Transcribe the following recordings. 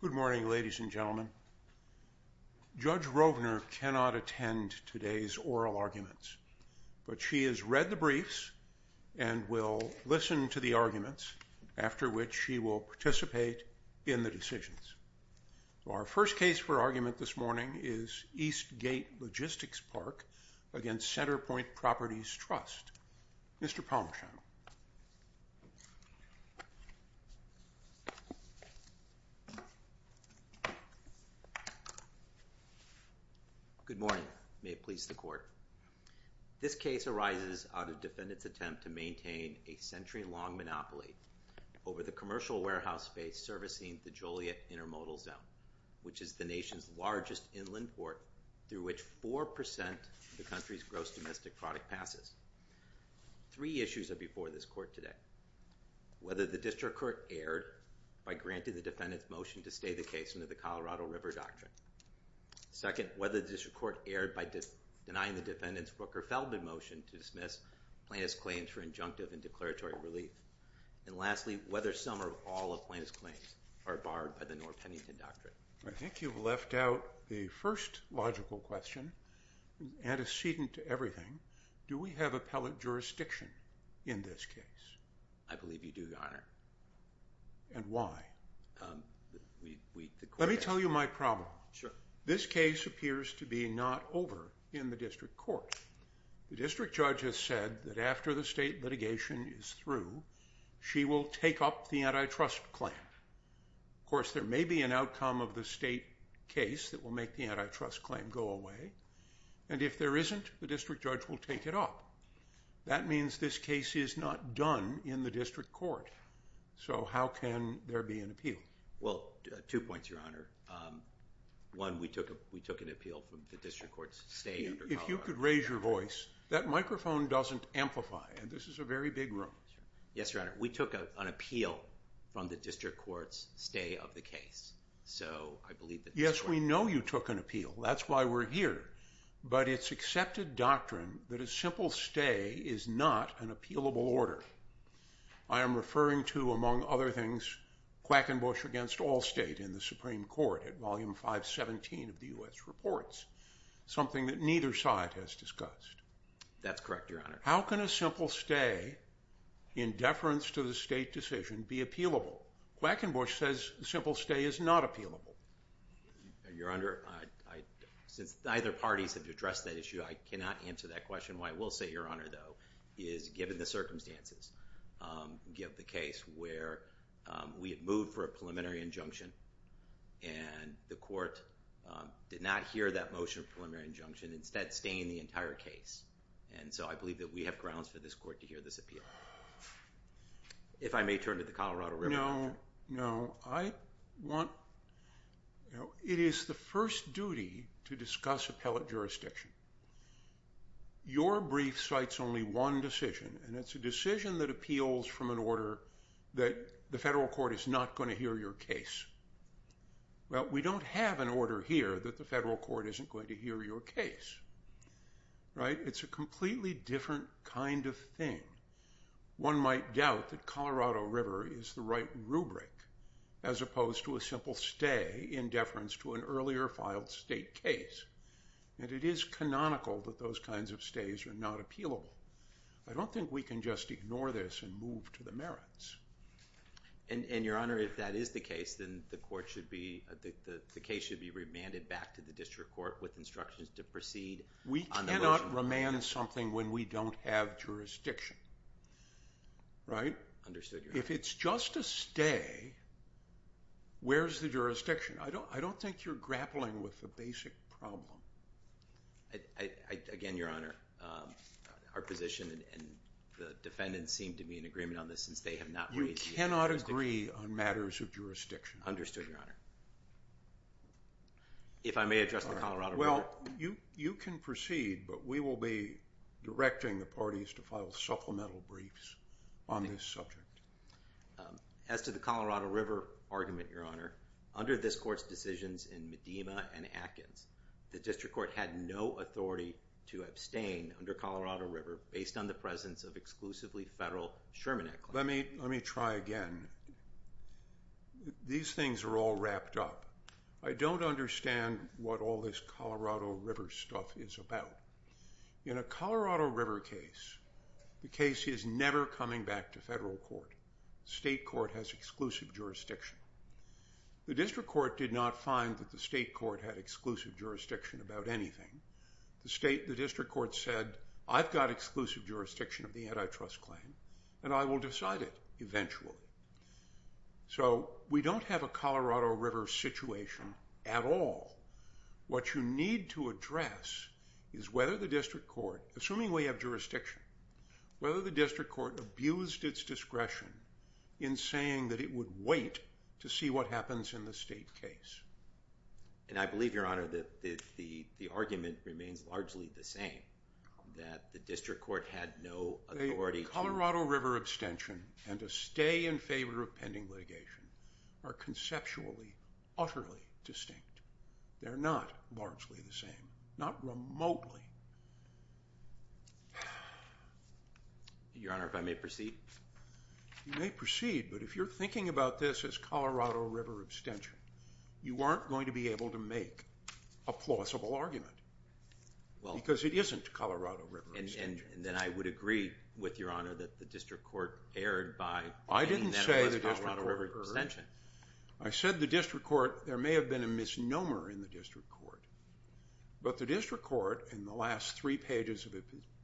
Good morning, ladies and gentlemen. Judge Rovner cannot attend today's oral arguments, but she has read the briefs and will listen to the arguments, after which she will participate in the decisions. Our first case for argument this morning is East Gate-Logistics Park v. CenterPoint Properties Trust. Mr. Palmesham. Good morning. May it please the Court. This case arises out of defendants' attempt to maintain a century-long monopoly over the commercial warehouse space servicing the Joliet Intermodal Zone, which is the nation's largest inland port through which 4 percent of the country's gross domestic product passes. Three issues are before this Court today. Whether the District Court erred by granting the defendants' motion to stay the case under the Colorado River Doctrine. Second, whether the District Court erred by denying the defendants' Rooker-Feldman motion to dismiss plaintiff's claims for injunctive and declaratory relief. And lastly, whether some or all of plaintiff's claims are barred by the North Pennington Doctrine. I think you've left out the first logical question, antecedent to everything. Do we have appellate jurisdiction in this case? I believe you do, Your Honor. And why? Let me tell you my problem. Sure. This case appears to be not over in the District Court. The District Judge has said that after the state litigation is through, she will take up the antitrust claim. Of course, there may be an outcome of the state case that will make the antitrust claim go away. And if there isn't, the District Judge will take it up. That means this case is not done in the District Court. So how can there be an appeal? Well, two points, Your Honor. One, we took an appeal from the District Court's stay under Colorado River Doctrine. If you could raise your voice. That microphone doesn't amplify, and this is a very big room. Yes, Your Honor. We took an appeal from the District Court's stay of the case. So I believe that's why. That's why we're here. But it's accepted doctrine that a simple stay is not an appealable order. I am referring to, among other things, Quackenbush against all state in the Supreme Court at Volume 517 of the U.S. Reports, something that neither side has discussed. That's correct, Your Honor. How can a simple stay, in deference to the state decision, be appealable? Quackenbush says a simple stay is not appealable. Your Honor, since neither parties have addressed that issue, I cannot answer that question. What I will say, Your Honor, though, is given the circumstances, given the case where we had moved for a preliminary injunction, and the court did not hear that motion of preliminary injunction, instead staying the entire case. And so I believe that we have grounds for this court to hear this appeal. If I may turn to the Colorado River Doctrine. Your Honor, it is the first duty to discuss appellate jurisdiction. Your brief cites only one decision, and it's a decision that appeals from an order that the federal court is not going to hear your case. Well, we don't have an order here that the federal court isn't going to hear your case. Right? It's a completely different kind of thing. One might doubt that Colorado River is the right rubric, as opposed to a simple stay in deference to an earlier filed state case. And it is canonical that those kinds of stays are not appealable. I don't think we can just ignore this and move to the merits. And, Your Honor, if that is the case, then the case should be remanded back to the district court with instructions to proceed on the motion. We can't amend something when we don't have jurisdiction. Right? Understood, Your Honor. If it's just a stay, where's the jurisdiction? I don't think you're grappling with the basic problem. Again, Your Honor, our position and the defendant's seem to be in agreement on this, since they have not raised the issue. You cannot agree on matters of jurisdiction. Understood, Your Honor. If I may address the Colorado River. Well, you can proceed, but we will be directing the parties to file supplemental briefs on this subject. As to the Colorado River argument, Your Honor, under this court's decisions in Medina and Atkins, the district court had no authority to abstain under Colorado River based on the presence of exclusively federal Sherman Act claims. Let me try again. These things are all wrapped up. I don't understand what all this Colorado River stuff is about. In a Colorado River case, the case is never coming back to federal court. State court has exclusive jurisdiction. The district court did not find that the state court had exclusive jurisdiction about anything. The district court said, I've got exclusive jurisdiction of the antitrust claim, and I will decide it eventually. So we don't have a Colorado River situation at all. What you need to address is whether the district court, assuming we have jurisdiction, whether the district court abused its discretion in saying that it would wait to see what happens in the state case. And I believe, Your Honor, that the argument remains largely the same, that the district court had no authority to The Colorado River abstention and a stay in favor of pending litigation are conceptually, utterly distinct. They're not largely the same, not remotely. Your Honor, if I may proceed. You may proceed, but if you're thinking about this as Colorado River abstention, you aren't going to be able to make a plausible argument because it isn't Colorado River abstention. And then I would agree with Your Honor that the district court erred by saying that it was Colorado River abstention. I said the district court, there may have been a misnomer in the district court. But the district court, in the last three pages of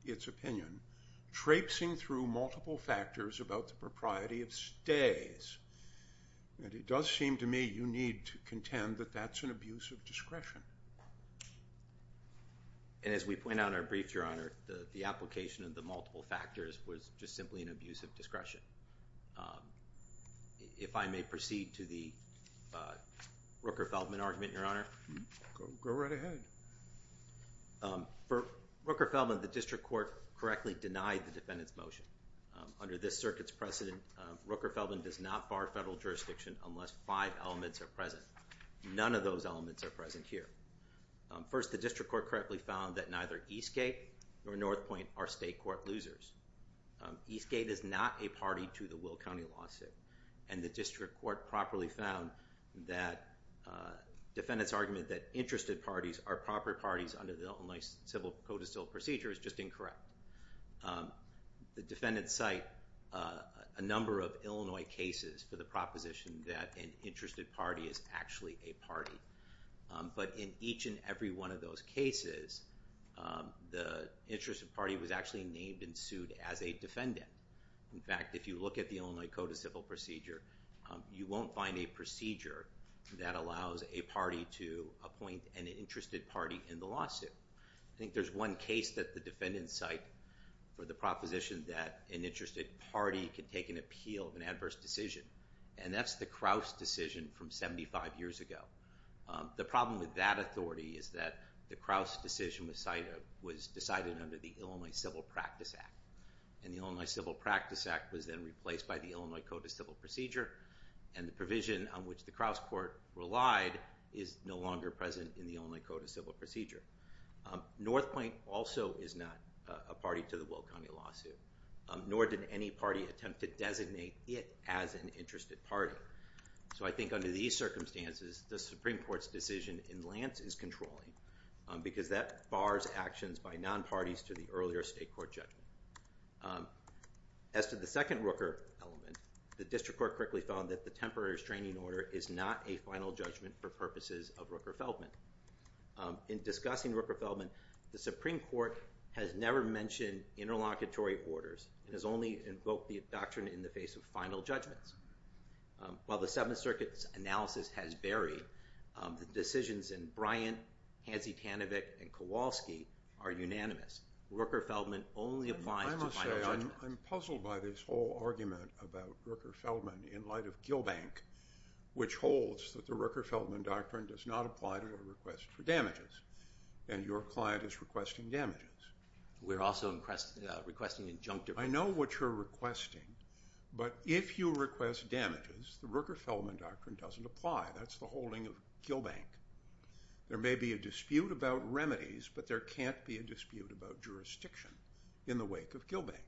its opinion, traipsing through multiple factors about the propriety of stays, and it does seem to me you need to contend that that's an abuse of discretion. And as we point out in our brief, Your Honor, the application of the multiple factors was just simply an abuse of discretion. If I may proceed to the Rooker-Feldman argument, Your Honor. Go right ahead. For Rooker-Feldman, the district court correctly denied the defendant's motion. Under this circuit's precedent, Rooker-Feldman does not bar federal jurisdiction unless five elements are present. None of those elements are present here. First, the district court correctly found that neither Eastgate or Northpointe are state court losers. Eastgate is not a party to the Will County lawsuit. And the district court properly found that defendant's argument that interested parties are proper parties under the Illinois Civil Code of Civil Procedure is just incorrect. The defendants cite a number of Illinois cases for the proposition that an interested party is actually a party. But in each and every one of those cases, the interested party was actually named and sued as a defendant. In fact, if you look at the Illinois Code of Civil Procedure, you won't find a procedure that allows a party to appoint an interested party in the lawsuit. I think there's one case that the defendants cite for the proposition that an interested party can take an appeal of an adverse decision. And that's the Krause decision from 75 years ago. The problem with that authority is that the Krause decision was decided under the Illinois Civil Practice Act. And the Illinois Civil Practice Act was then replaced by the Illinois Code of Civil Procedure. And the provision on which the Krause court relied is no longer present in the Illinois Code of Civil Procedure. North Point also is not a party to the Will County lawsuit, nor did any party attempt to designate it as an interested party. So I think under these circumstances, the Supreme Court's decision in Lance is controlling, because that bars actions by non-parties to the earlier state court judgment. As to the second Rooker element, the district court quickly found that the temporary restraining order is not a final judgment for purposes of Rooker-Feldman. In discussing Rooker-Feldman, the Supreme Court has never mentioned interlocutory orders. It has only invoked the doctrine in the face of final judgments. While the Seventh Circuit's analysis has varied, the decisions in Bryant, Hansi Tanevich, and Kowalski are unanimous. Rooker-Feldman only applies to final judgments. I'm puzzled by this whole argument about Rooker-Feldman in light of Gill Bank, which holds that the Rooker-Feldman doctrine does not apply to a request for damages, and your client is requesting damages. We're also requesting injunctive. I know what you're requesting, but if you request damages, the Rooker-Feldman doctrine doesn't apply. That's the holding of Gill Bank. There may be a dispute about remedies, but there can't be a dispute about jurisdiction in the wake of Gill Bank.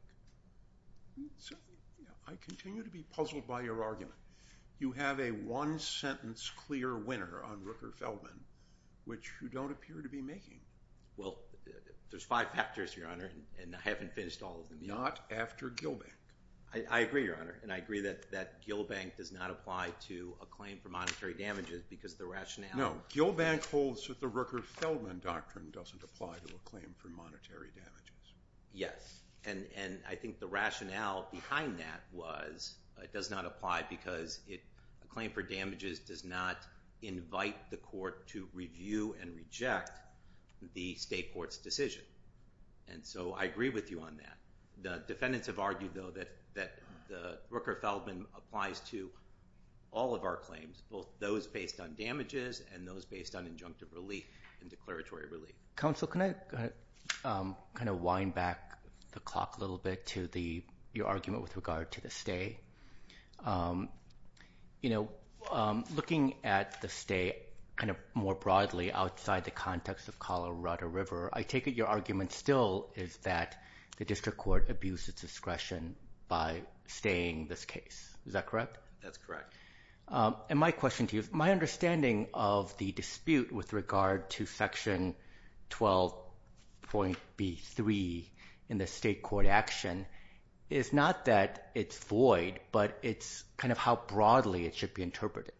So I continue to be puzzled by your argument. You have a one-sentence clear winner on Rooker-Feldman, which you don't appear to be making. Well, there's five factors, Your Honor, and I haven't finished all of them yet. Not after Gill Bank. I agree, Your Honor, and I agree that Gill Bank does not apply to a claim for monetary damages because of the rationale. No, Gill Bank holds that the Rooker-Feldman doctrine doesn't apply to a claim for monetary damages. Yes, and I think the rationale behind that was it does not apply because a claim for damages does not invite the court to review and reject the state court's decision, and so I agree with you on that. The defendants have argued, though, that the Rooker-Feldman applies to all of our claims, both those based on damages and those based on injunctive relief and declaratory relief. Counsel, can I kind of wind back the clock a little bit to your argument with regard to the stay? You know, looking at the stay kind of more broadly outside the context of Colorado River, I take it your argument still is that the district court abused its discretion by staying this case. Is that correct? That's correct. And my question to you is my understanding of the dispute with regard to Section 12.B.3 in the state court action is not that it's void, but it's kind of how broadly it should be interpreted.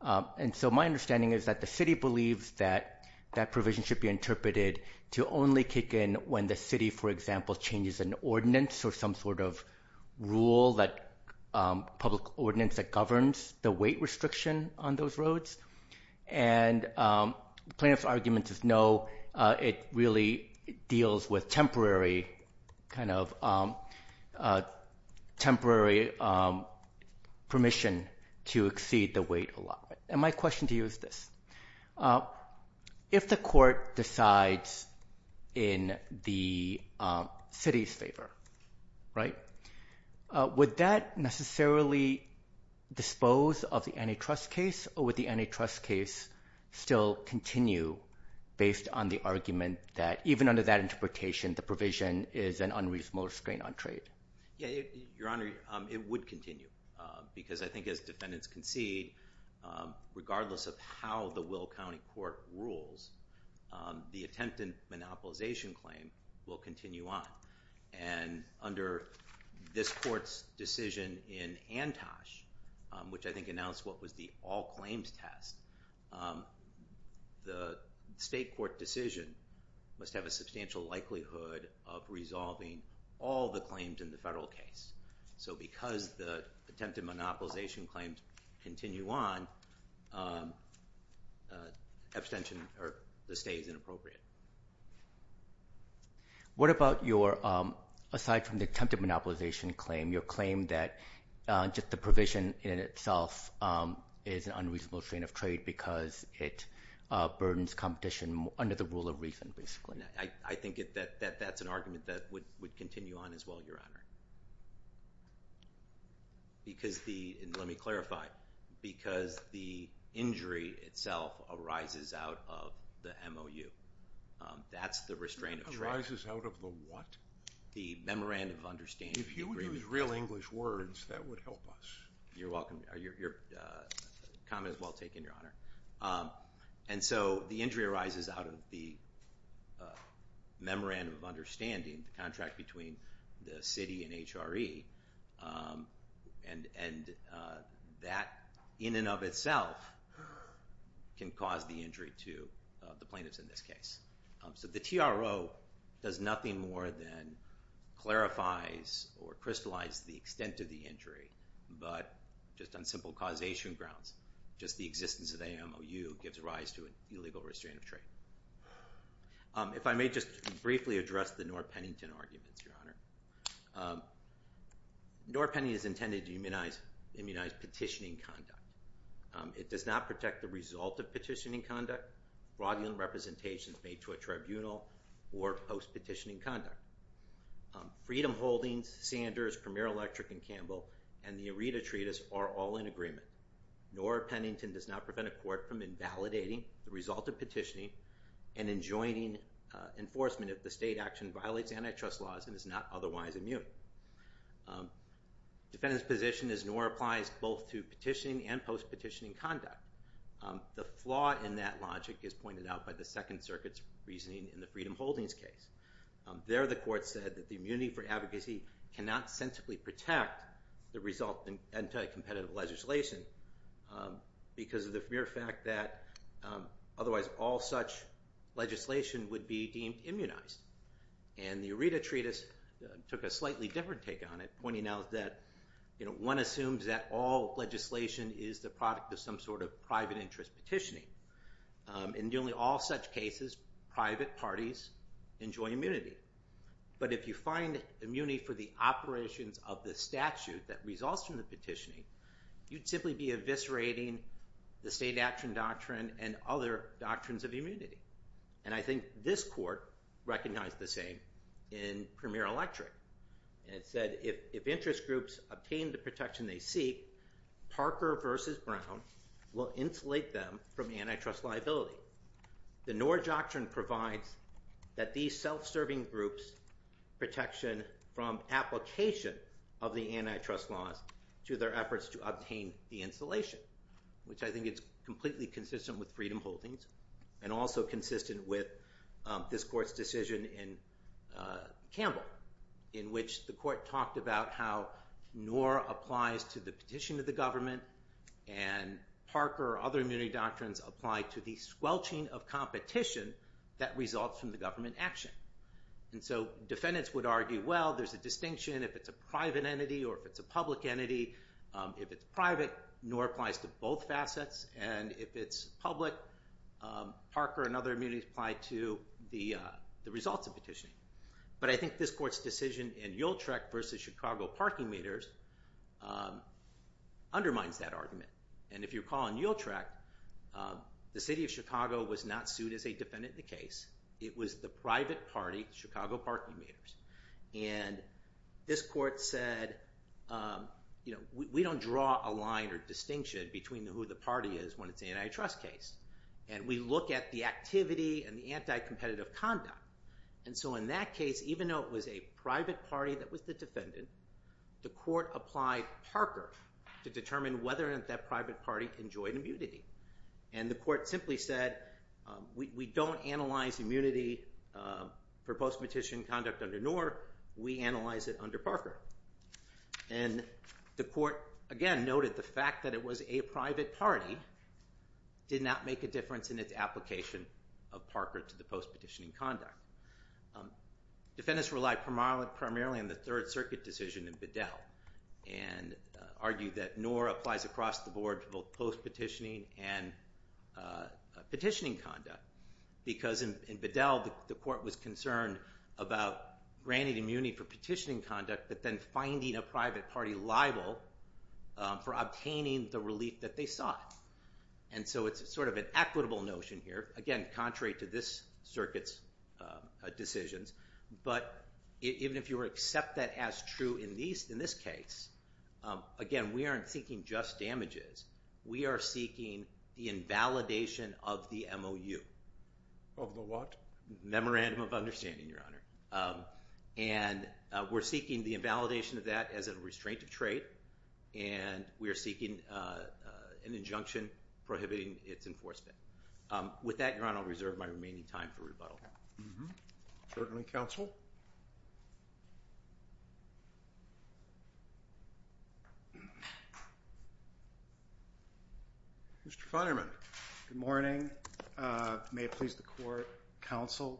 And so my understanding is that the city believes that that provision should be interpreted to only kick in when the city, for example, changes an ordinance or some sort of rule, public ordinance that governs the weight restriction on those roads. And the plaintiff's argument is no, it really deals with temporary permission to exceed the weight allotment. And my question to you is this. If the court decides in the city's favor, right, would that necessarily dispose of the antitrust case or would the antitrust case still continue based on the argument that even under that interpretation, the provision is an unreasonable restraint on trade? Yeah, Your Honor, it would continue because I think as defendants concede, regardless of how the Will County Court rules, the attempted monopolization claim will continue on. And under this court's decision in Antosh, which I think announced what was the all claims test, the state court decision must have a substantial likelihood of resolving all the claims in the federal case. So because the attempted monopolization claims continue on, abstention or the stay is inappropriate. What about your, aside from the attempted monopolization claim, your claim that just the provision in itself is an unreasonable restraint of trade because it burdens competition under the rule of reason, basically? I think that that's an argument that would continue on as well, Your Honor. Because the, and let me clarify, because the injury itself arises out of the MOU. That's the restraint of trade. Arises out of the what? The memorandum of understanding. If you would use real English words, that would help us. You're welcome. Your comment is well taken, Your Honor. And so the injury arises out of the memorandum of understanding, the contract between the city and HRE. And that in and of itself can cause the injury to the plaintiffs in this case. So the TRO does nothing more than clarifies or crystallize the extent of the injury, but just on simple causation grounds, just the existence of the MOU gives rise to an illegal restraint of trade. If I may just briefly address the Norr-Pennington arguments, Your Honor. Norr-Pennington is intended to immunize petitioning conduct. It does not protect the result of petitioning conduct. It does not prohibit fraudulent representations made to a tribunal or post-petitioning conduct. Freedom Holdings, Sanders, Premier Electric, and Campbell, and the ERETA treatise are all in agreement. Norr-Pennington does not prevent a court from invalidating the result of petitioning and enjoining enforcement if the state action violates antitrust laws and is not otherwise immune. Defendant's position is Norr applies both to petitioning and post-petitioning conduct. The flaw in that logic is pointed out by the Second Circuit's reasoning in the Freedom Holdings case. There the court said that the immunity for advocacy cannot sensibly protect the result of anti-competitive legislation because of the mere fact that otherwise all such legislation would be deemed immunized. And the ERETA treatise took a slightly different take on it, pointing out that one assumes that all legislation is the product of some sort of private interest petitioning. In nearly all such cases, private parties enjoy immunity. But if you find immunity for the operations of the statute that results from the petitioning, you'd simply be eviscerating the state action doctrine and other doctrines of immunity. And I think this court recognized the same in Premier Electric. And it said if interest groups obtain the protection they seek, Parker v. Brown will insulate them from antitrust liability. The Norr doctrine provides that these self-serving groups' protection from application of the antitrust laws to their efforts to obtain the insulation, which I think is completely consistent with Freedom Holdings and also consistent with this court's decision in Campbell, in which the court talked about how Norr applies to the petition of the government and Parker or other immunity doctrines apply to the squelching of competition that results from the government action. And so defendants would argue, well, there's a distinction if it's a private entity or if it's a public entity. If it's private, Norr applies to both facets. And if it's public, Parker and other immunities apply to the results of petitioning. But I think this court's decision in Yuletrek v. Chicago Parking Meters undermines that argument. And if you recall in Yuletrek, the city of Chicago was not sued as a defendant in the case. It was the private party, Chicago Parking Meters. And this court said, we don't draw a line or distinction between who the party is when it's an antitrust case. And we look at the activity and the anti-competitive conduct. And so in that case, even though it was a private party that was the defendant, the court applied Parker to determine whether or not that private party enjoyed immunity. And the court simply said, we don't analyze immunity for post-petitioning conduct under Norr. We analyze it under Parker. And the court, again, noted the fact that it was a private party did not make a difference in its application of Parker to the post-petitioning conduct. Defendants relied primarily on the Third Circuit decision in Bedell and argued that Norr applies across the board to both post-petitioning and petitioning conduct. Because in Bedell, the court was concerned about granting immunity for petitioning conduct, but then finding a private party liable for obtaining the relief that they sought. And so it's sort of an equitable notion here, again, contrary to this circuit's decisions. But even if you accept that as true in this case, again, we aren't seeking just damages. We are seeking the invalidation of the MOU. Of the what? Memorandum of Understanding, Your Honor. And we're seeking the invalidation of that as a restraint of trait. And we are seeking an injunction prohibiting its enforcement. With that, Your Honor, I'll reserve my remaining time for rebuttal. Certainly, counsel. Mr. Feinerman. Good morning. May it please the court, counsel.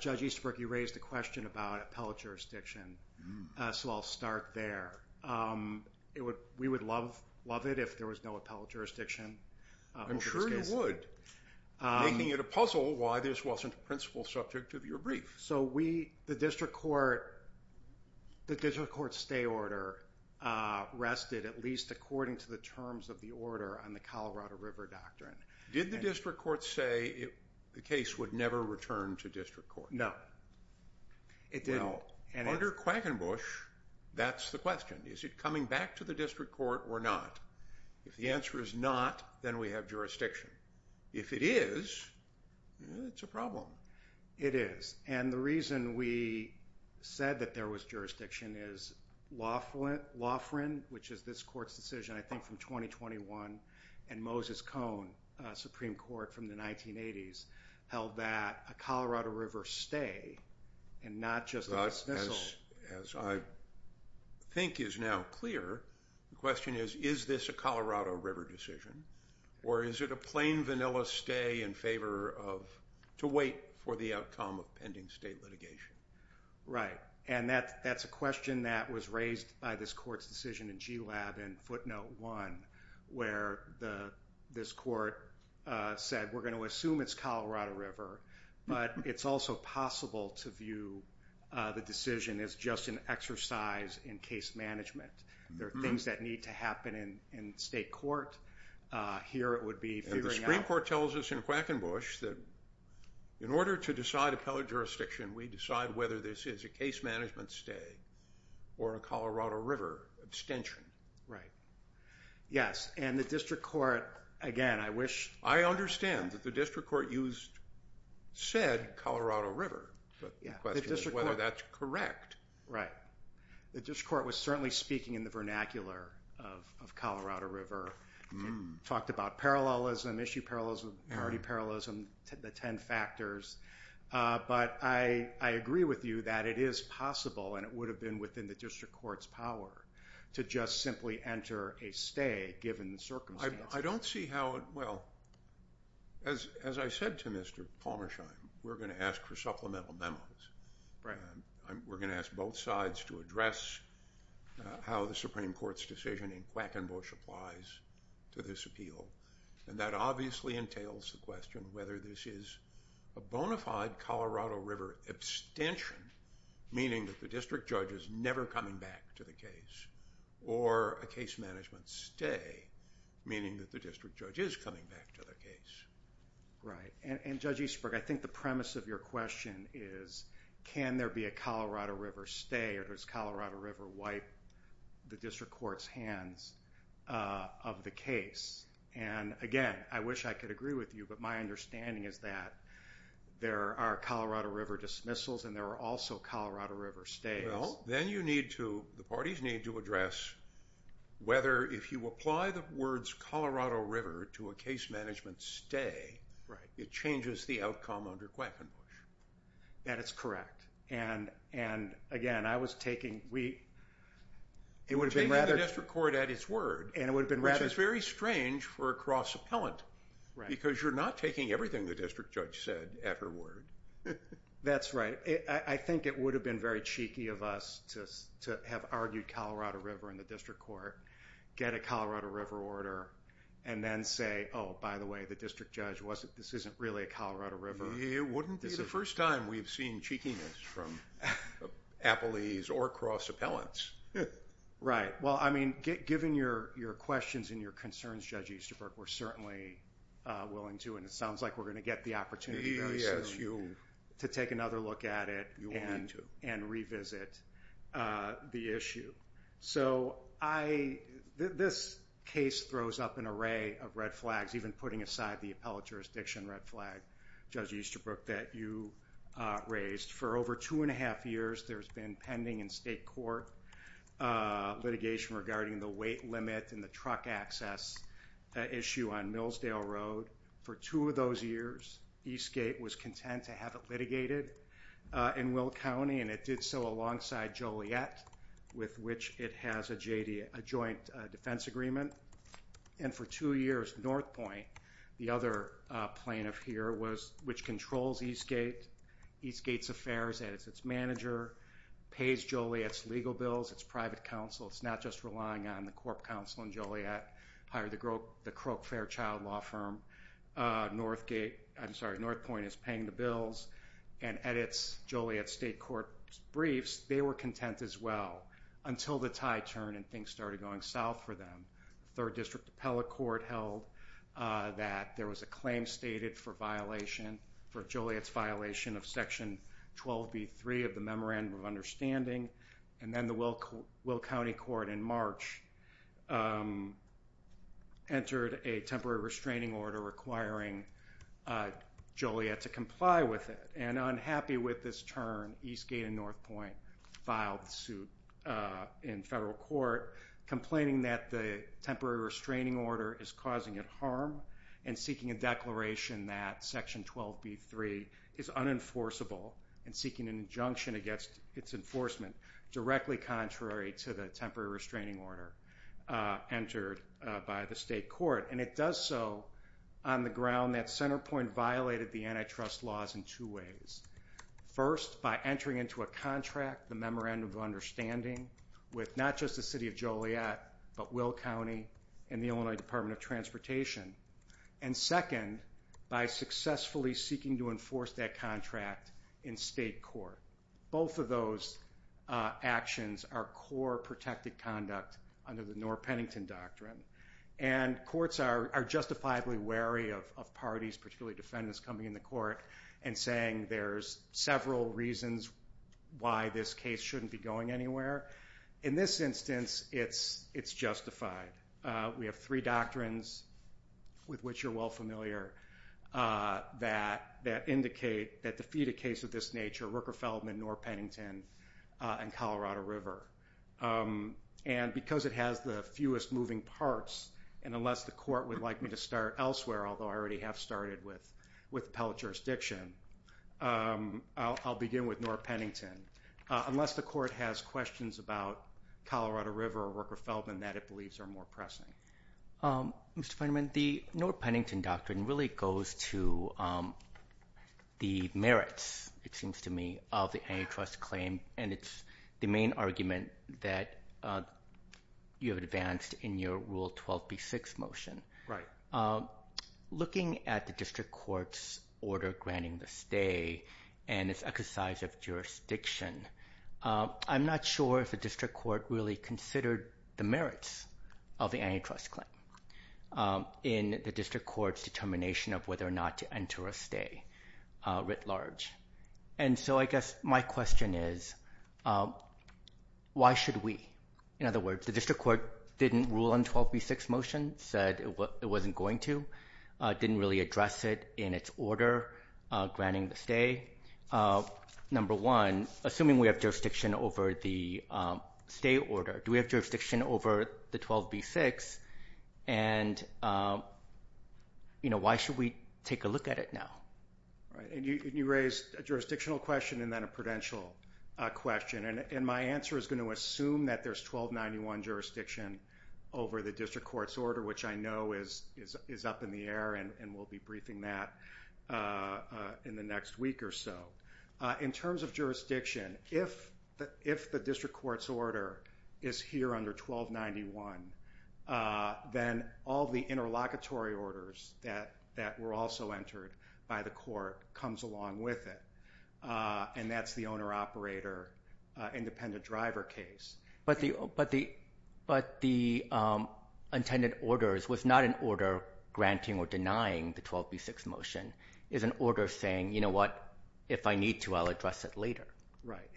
Judge Easterbrook, you raised a question about appellate jurisdiction, so I'll start there. We would love it if there was no appellate jurisdiction over this case. I'm sure you would. Making it a puzzle why this wasn't a principal subject of your brief. So the district court stay order rested at least according to the terms of the order on the Colorado River Doctrine. Did the district court say the case would never return to district court? No, it didn't. Under Quackenbush, that's the question. Is it coming back to the district court or not? If the answer is not, then we have jurisdiction. If it is, it's a problem. It is. And the reason we said that there was jurisdiction is Laughran, which is this court's decision, I think, from 2021, and Moses Cone, Supreme Court from the 1980s, held that a Colorado River stay and not just a dismissal. As I think is now clear, the question is, is this a Colorado River decision? Or is it a plain vanilla stay in favor of to wait for the outcome of pending state litigation? Right. And that's a question that was raised by this court's decision in GLAB in footnote one, where this court said, we're going to assume it's Colorado River, but it's also possible to view the decision as just an exercise in case management. There are things that need to happen in state court. Here it would be figuring out- And the Supreme Court tells us in Quackenbush that in order to decide appellate jurisdiction, we decide whether this is a case management stay or a Colorado River abstention. Right. Yes. And the district court, again, I wish- said Colorado River, but the question is whether that's correct. Right. The district court was certainly speaking in the vernacular of Colorado River, talked about parallelism, issue parallelism, parity parallelism, the 10 factors. But I agree with you that it is possible, and it would have been within the district court's power, to just simply enter a stay, given the circumstances. I don't see how- Well, as I said to Mr. Palmerstein, we're going to ask for supplemental memos. We're going to ask both sides to address how the Supreme Court's decision in Quackenbush applies to this appeal. And that obviously entails the question of whether this is a bona fide Colorado River abstention, meaning that the district judge is never coming back to the case, or a case management stay, meaning that the district judge is coming back to the case. Right. And Judge Eastberg, I think the premise of your question is, can there be a Colorado River stay or does Colorado River wipe the district court's hands of the case? And again, I wish I could agree with you, but my understanding is that there are Colorado River dismissals and there are also Colorado River stays. Well, then you need to, the parties need to address whether, if you apply the words Colorado River to a case management stay, it changes the outcome under Quackenbush. That is correct. And again, I was taking- You're taking the district court at its word, which is very strange for a cross-appellant, because you're not taking everything the district judge said at her word. That's right. I think it would have been very cheeky of us to have argued Colorado River in the district court, get a Colorado River order, and then say, oh, by the way, the district judge wasn't, this isn't really a Colorado River. It wouldn't be the first time we've seen cheekiness from appellees or cross-appellants. Right. Well, I mean, given your questions and your concerns, Judge Eastberg, we're certainly willing to, and it sounds like we're going to get the opportunity very soon. Yes, to take another look at it. You will need to. And revisit the issue. So I, this case throws up an array of red flags, even putting aside the appellate jurisdiction red flag, Judge Easterbrook, that you raised. For over two and a half years, there's been pending in state court litigation regarding the weight limit and the truck access issue on Millsdale Road. For two of those years, Eastgate was content to have it litigated in Will County, and it did so alongside Joliet, with which it has a joint defense agreement. And for two years, Northpointe, the other plaintiff here, which controls Eastgate, Eastgate's affairs as its manager, pays Joliet's legal bills, its private counsel. It's not just relying on the corp counsel in Joliet. Hired the Croke Fair child law firm. Northgate, I'm sorry, Northpointe is paying the bills and edits Joliet's state court briefs. They were content as well, until the tide turned and things started going south for them. Third District Appellate Court held that there was a claim stated for violation, for Joliet's violation of Section 12b.3 of the Memorandum of Understanding, and then the Will County Court in March entered a temporary restraining order requiring Joliet to comply with it. And unhappy with this turn, Eastgate and Northpointe filed suit in federal court, complaining that the temporary restraining order is causing it harm and seeking a declaration that Section 12b.3 is unenforceable and seeking an injunction against its enforcement, directly contrary to the temporary restraining order entered by the state court. And it does so on the ground that Centerpointe violated the antitrust laws in two ways. First, by entering into a contract, the Memorandum of Understanding, with not just the City of Joliet, but Will County and the Illinois Department of Transportation. And second, by successfully seeking to enforce that contract in state court. Both of those actions are core protected conduct under the Norr-Pennington Doctrine. And courts are justifiably wary of parties, particularly defendants, coming into court and saying there's several reasons why this case shouldn't be going anywhere. In this instance, it's justified. We have three doctrines, with which you're well familiar, that defeat a case of this nature, Rooker-Feldman, Norr-Pennington, and Colorado River. And because it has the fewest moving parts, and unless the court would like me to start elsewhere, although I already have started with appellate jurisdiction, I'll begin with Norr-Pennington. Unless the court has questions about Colorado River or Rooker-Feldman that it believes are more pressing. Mr. Feynman, the Norr-Pennington Doctrine really goes to the merits, it seems to me, of the antitrust claim, and it's the main argument that you have advanced in your Rule 12b-6 motion. Looking at the district court's order granting the stay and its exercise of jurisdiction, I'm not sure if the district court really considered the merits of the antitrust claim in the district court's determination of whether or not to enter a stay, writ large. And so I guess my question is, why should we? In other words, the district court didn't rule on 12b-6 motion, said it wasn't going to, didn't really address it in its order granting the stay. Number one, assuming we have jurisdiction over the stay order, do we have jurisdiction over the 12b-6? And, you know, why should we take a look at it now? And you raised a jurisdictional question and then a prudential question, and my answer is going to assume that there's 1291 jurisdiction over the district court's order, which I know is up in the air and we'll be briefing that in the next week or so. In terms of jurisdiction, if the district court's order is here under 1291, then all the interlocutory orders that were also entered by the court comes along with it, and that's the owner-operator independent driver case. But the intended orders was not an order granting or denying the 12b-6 motion. It's an order saying, you know what, if I need to, I'll address it later. Right.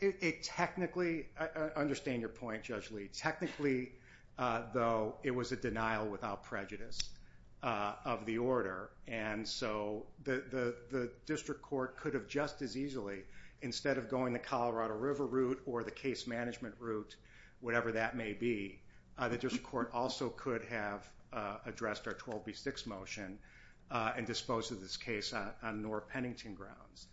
It technically, I understand your point, Judge Lee. Technically, though, it was a denial without prejudice of the order, and so the district court could have just as easily, instead of going the Colorado River route or the case management route, whatever that may be, the district court also could have addressed our 12b-6 motion and disposed of this case on Noor-Pennington grounds.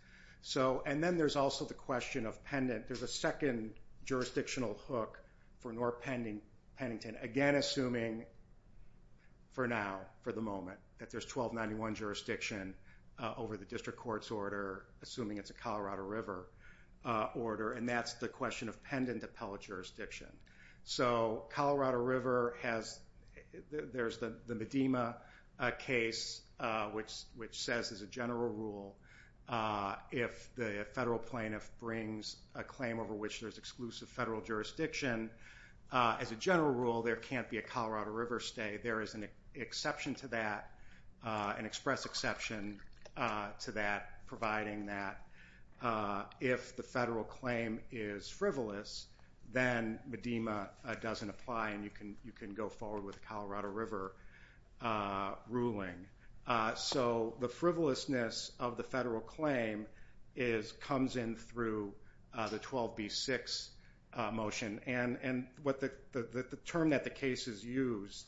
And then there's also the question of pendant. There's a second jurisdictional hook for Noor-Pennington, again assuming for now, for the moment, that there's 1291 jurisdiction over the district court's order, assuming it's a Colorado River order, and that's the question of pendant appellate jurisdiction. So Colorado River has, there's the Medema case, which says as a general rule, if the federal plaintiff brings a claim over which there's exclusive federal jurisdiction, as a general rule, there can't be a Colorado River stay. There is an exception to that, an express exception to that, providing that if the federal claim is frivolous, then Medema doesn't apply and you can go forward with the Colorado River ruling. So the frivolousness of the federal claim comes in through the 12b-6 motion, and the term that the case is used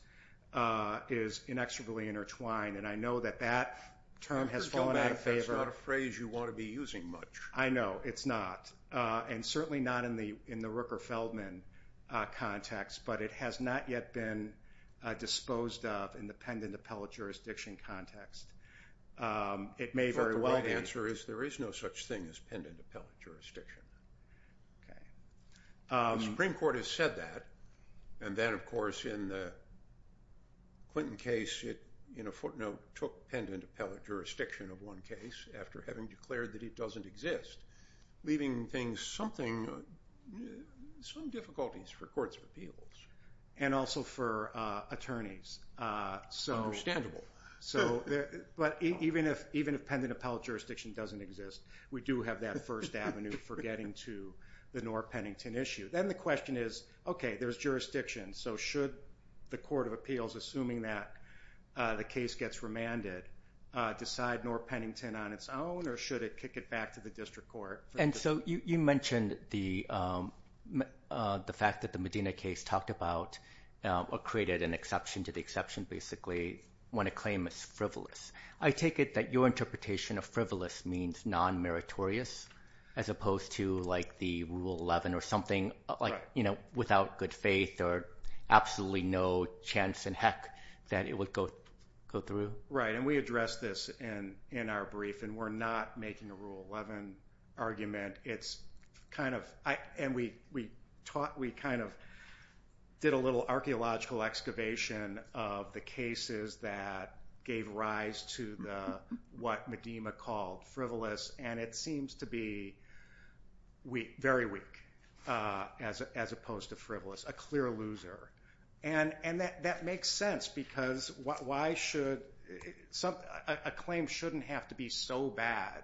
is inexorably intertwined, and I know that that term has fallen out of favor. That's not a phrase you want to be using much. I know, it's not, and certainly not in the Rooker-Feldman context, but it has not yet been disposed of in the pendant appellate jurisdiction context. The right answer is there is no such thing as pendant appellate jurisdiction. The Supreme Court has said that, and then, of course, in the Clinton case, it in a footnote took pendant appellate jurisdiction of one case after having declared that it doesn't exist, leaving things something, some difficulties for courts of appeals. And also for attorneys. Understandable. But even if pendant appellate jurisdiction doesn't exist, we do have that first avenue for getting to the Norr-Pennington issue. Then the question is, okay, there's jurisdiction, so should the court of appeals, assuming that the case gets remanded, decide Norr-Pennington on its own, or should it kick it back to the district court? And so you mentioned the fact that the Medina case talked about or created an exception to the exception, basically, when a claim is frivolous. I take it that your interpretation of frivolous means non-meritorious as opposed to like the Rule 11 or something without good faith or absolutely no chance in heck that it would go through? Right. And we addressed this in our brief, and we're not making a Rule 11 argument. It's kind of – and we kind of did a little archaeological excavation of the cases that gave rise to what Medina called frivolous, and it seems to be very weak as opposed to frivolous, a clear loser. And that makes sense because why should – a claim shouldn't have to be so bad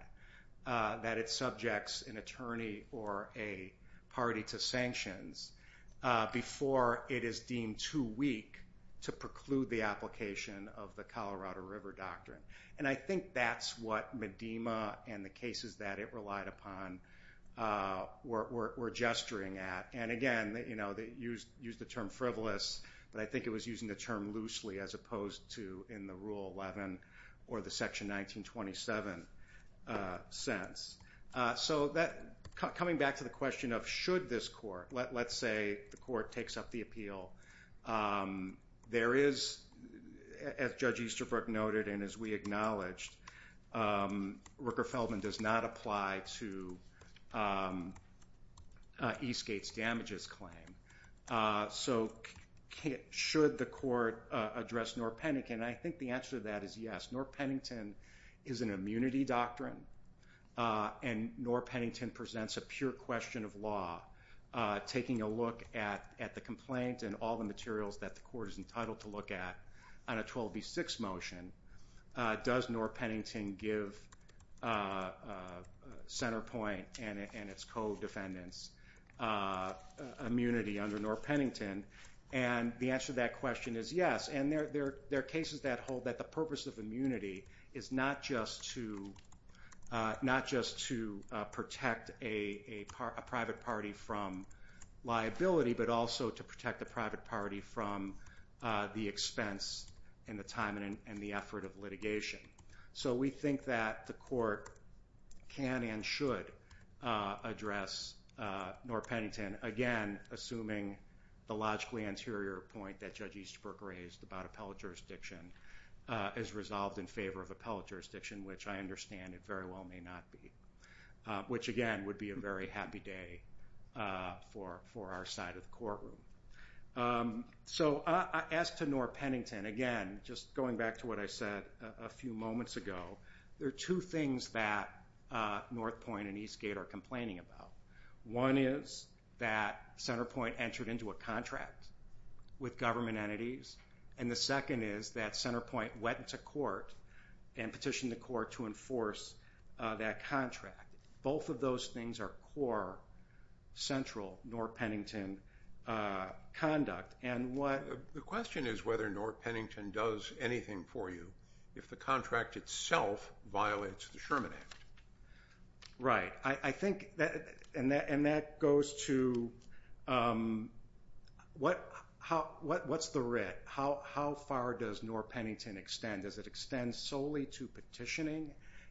that it subjects an attorney or a party to sanctions before it is deemed too weak to preclude the application of the Colorado River Doctrine. And I think that's what Medina and the cases that it relied upon were gesturing at. And again, they used the term frivolous, but I think it was using the term loosely as opposed to in the Rule 11 or the Section 1927 sense. So coming back to the question of should this court – let's say the court takes up the appeal. There is, as Judge Easterbrook noted and as we acknowledged, Rooker-Feldman does not apply to Eastgate's damages claim. So should the court address Norr-Pennington? I think the answer to that is yes. Norr-Pennington is an immunity doctrine, and Norr-Pennington presents a pure question of law. Taking a look at the complaint and all the materials that the court is entitled to look at on a 12B6 motion, does Norr-Pennington give Centerpoint and its co-defendants immunity under Norr-Pennington? And the answer to that question is yes. And there are cases that hold that the purpose of immunity is not just to protect a private party from liability, but also to protect the private party from the expense and the time and the effort of litigation. So we think that the court can and should address Norr-Pennington, again, assuming the logically anterior point that Judge Easterbrook raised about appellate jurisdiction is resolved in favor of appellate jurisdiction, which I understand it very well may not be, which again would be a very happy day for our side of the courtroom. So as to Norr-Pennington, again, just going back to what I said a few moments ago, there are two things that Northpoint and Eastgate are complaining about. One is that Centerpoint entered into a contract with government entities, and the second is that Centerpoint went to court and petitioned the court to enforce that contract. Both of those things are core central Norr-Pennington conduct. The question is whether Norr-Pennington does anything for you if the contract itself violates the Sherman Act. Right. And that goes to what's the writ? How far does Norr-Pennington extend? Does it extend solely to petitioning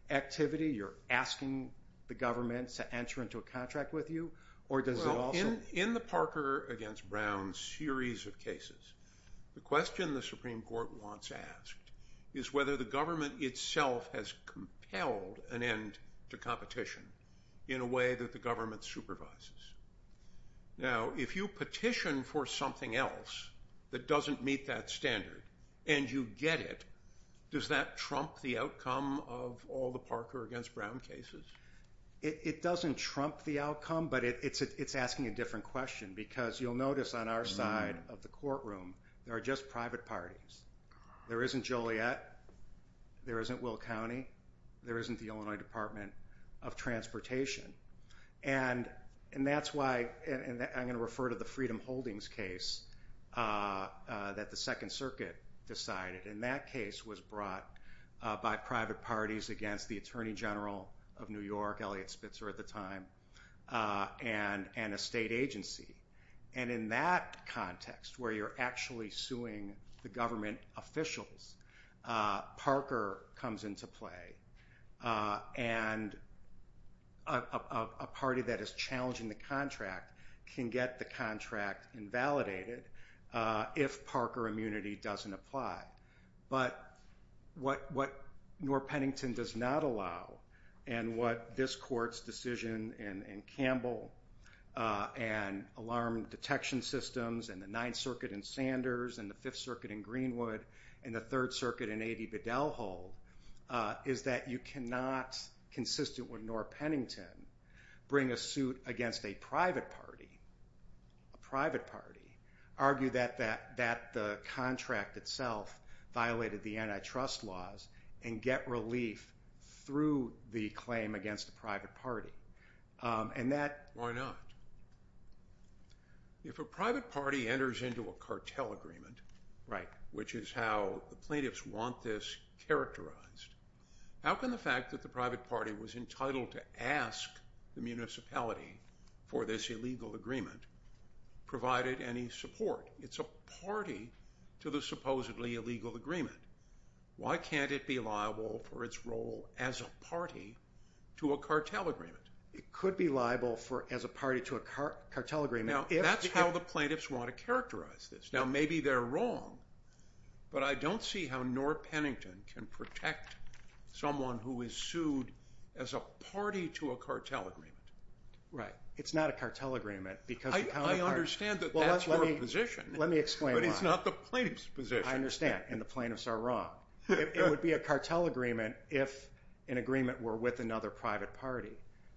activity? You're asking the government to enter into a contract with you, or does it also? Well, in the Parker v. Brown series of cases, the question the Supreme Court wants asked is whether the government itself has compelled an end to competition in a way that the government supervises. Now, if you petition for something else that doesn't meet that standard and you get it, does that trump the outcome of all the Parker v. Brown cases? It doesn't trump the outcome, but it's asking a different question because you'll notice on our side of the courtroom there are just private parties. There isn't Joliet, there isn't Will County, there isn't the Illinois Department of Transportation. And that's why I'm going to refer to the Freedom Holdings case that the Second Circuit decided. And that case was brought by private parties against the Attorney General of New York, Eliot Spitzer at the time, and a state agency. And in that context, where you're actually suing the government officials, Parker comes into play. And a party that is challenging the contract can get the contract invalidated if Parker immunity doesn't apply. But what Norr Pennington does not allow, and what this court's decision in Campbell and alarm detection systems and the Ninth Circuit in Sanders and the Fifth Circuit in Greenwood and the Third Circuit in A.D. Biddell hold, is that you cannot, consistent with Norr Pennington, bring a suit against a private party, argue that the contract itself violated the antitrust laws and get relief through the claim against a private party. Why not? If a private party enters into a cartel agreement, which is how the plaintiffs want this characterized, how can the fact that the private party was entitled to ask the municipality for this illegal agreement provided any support? It's a party to the supposedly illegal agreement. Why can't it be liable for its role as a party to a cartel agreement? It could be liable as a party to a cartel agreement. Now, that's how the plaintiffs want to characterize this. Now, maybe they're wrong, but I don't see how Norr Pennington can protect someone who is sued as a party to a cartel agreement. Right. It's not a cartel agreement because the private party... I understand that that's your position. Let me explain why. But it's not the plaintiff's position. I understand, and the plaintiffs are wrong. It would be a cartel agreement if an agreement were with another private party,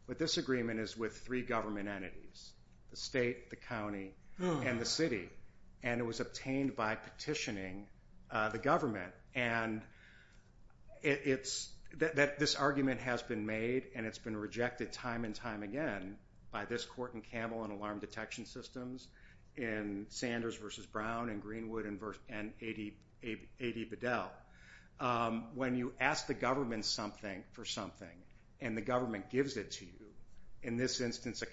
but this agreement is with three government entities, the state, the county, and the city, and it was obtained by petitioning the government. And this argument has been made and it's been rejected time and time again by this court in Campbell in alarm detection systems, in Sanders v. Brown, in Greenwood, and A.D. Bedell. When you ask the government for something and the government gives it to you, in this instance a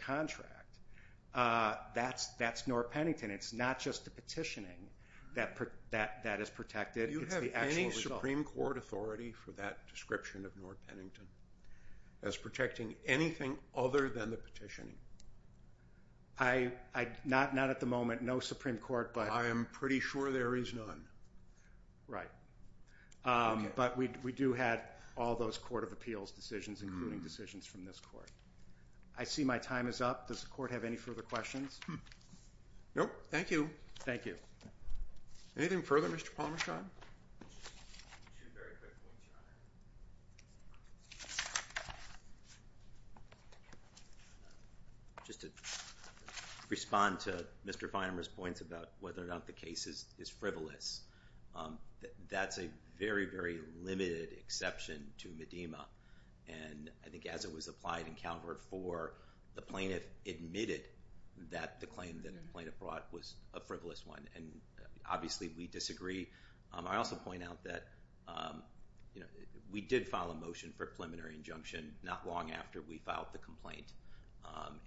contract, that's Norr Pennington. And it's not just the petitioning that is protected, it's the actual result. Do you have any Supreme Court authority for that description of Norr Pennington as protecting anything other than the petitioning? Not at the moment, no Supreme Court, but... I am pretty sure there is none. Right. But we do have all those Court of Appeals decisions, including decisions from this court. I see my time is up. Does the court have any further questions? No, thank you. Thank you. Anything further, Mr. Palmashod? Just to respond to Mr. Finer's points about whether or not the case is frivolous, that's a very, very limited exception to Medema. And I think as it was applied in Calvert 4, the plaintiff admitted that the claim that the plaintiff brought was a frivolous one. And obviously we disagree. I also point out that we did file a motion for preliminary injunction not long after we filed the complaint.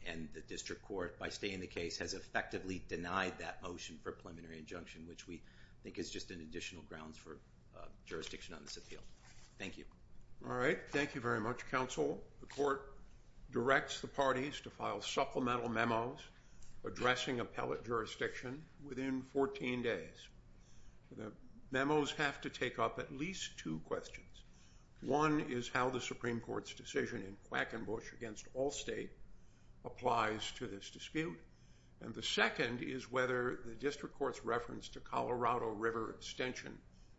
And the district court, by staying the case, has effectively denied that motion for preliminary injunction, which we think is just an additional grounds for jurisdiction on this appeal. Thank you. All right. Thank you very much, counsel. The court directs the parties to file supplemental memos addressing appellate jurisdiction within 14 days. The memos have to take up at least two questions. One is how the Supreme Court's decision in Quackenbush against Allstate applies to this dispute. And the second is whether the district court's reference to Colorado River extension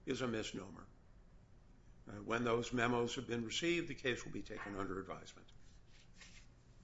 is a misnomer. When those memos have been received, the case will be taken under advisement.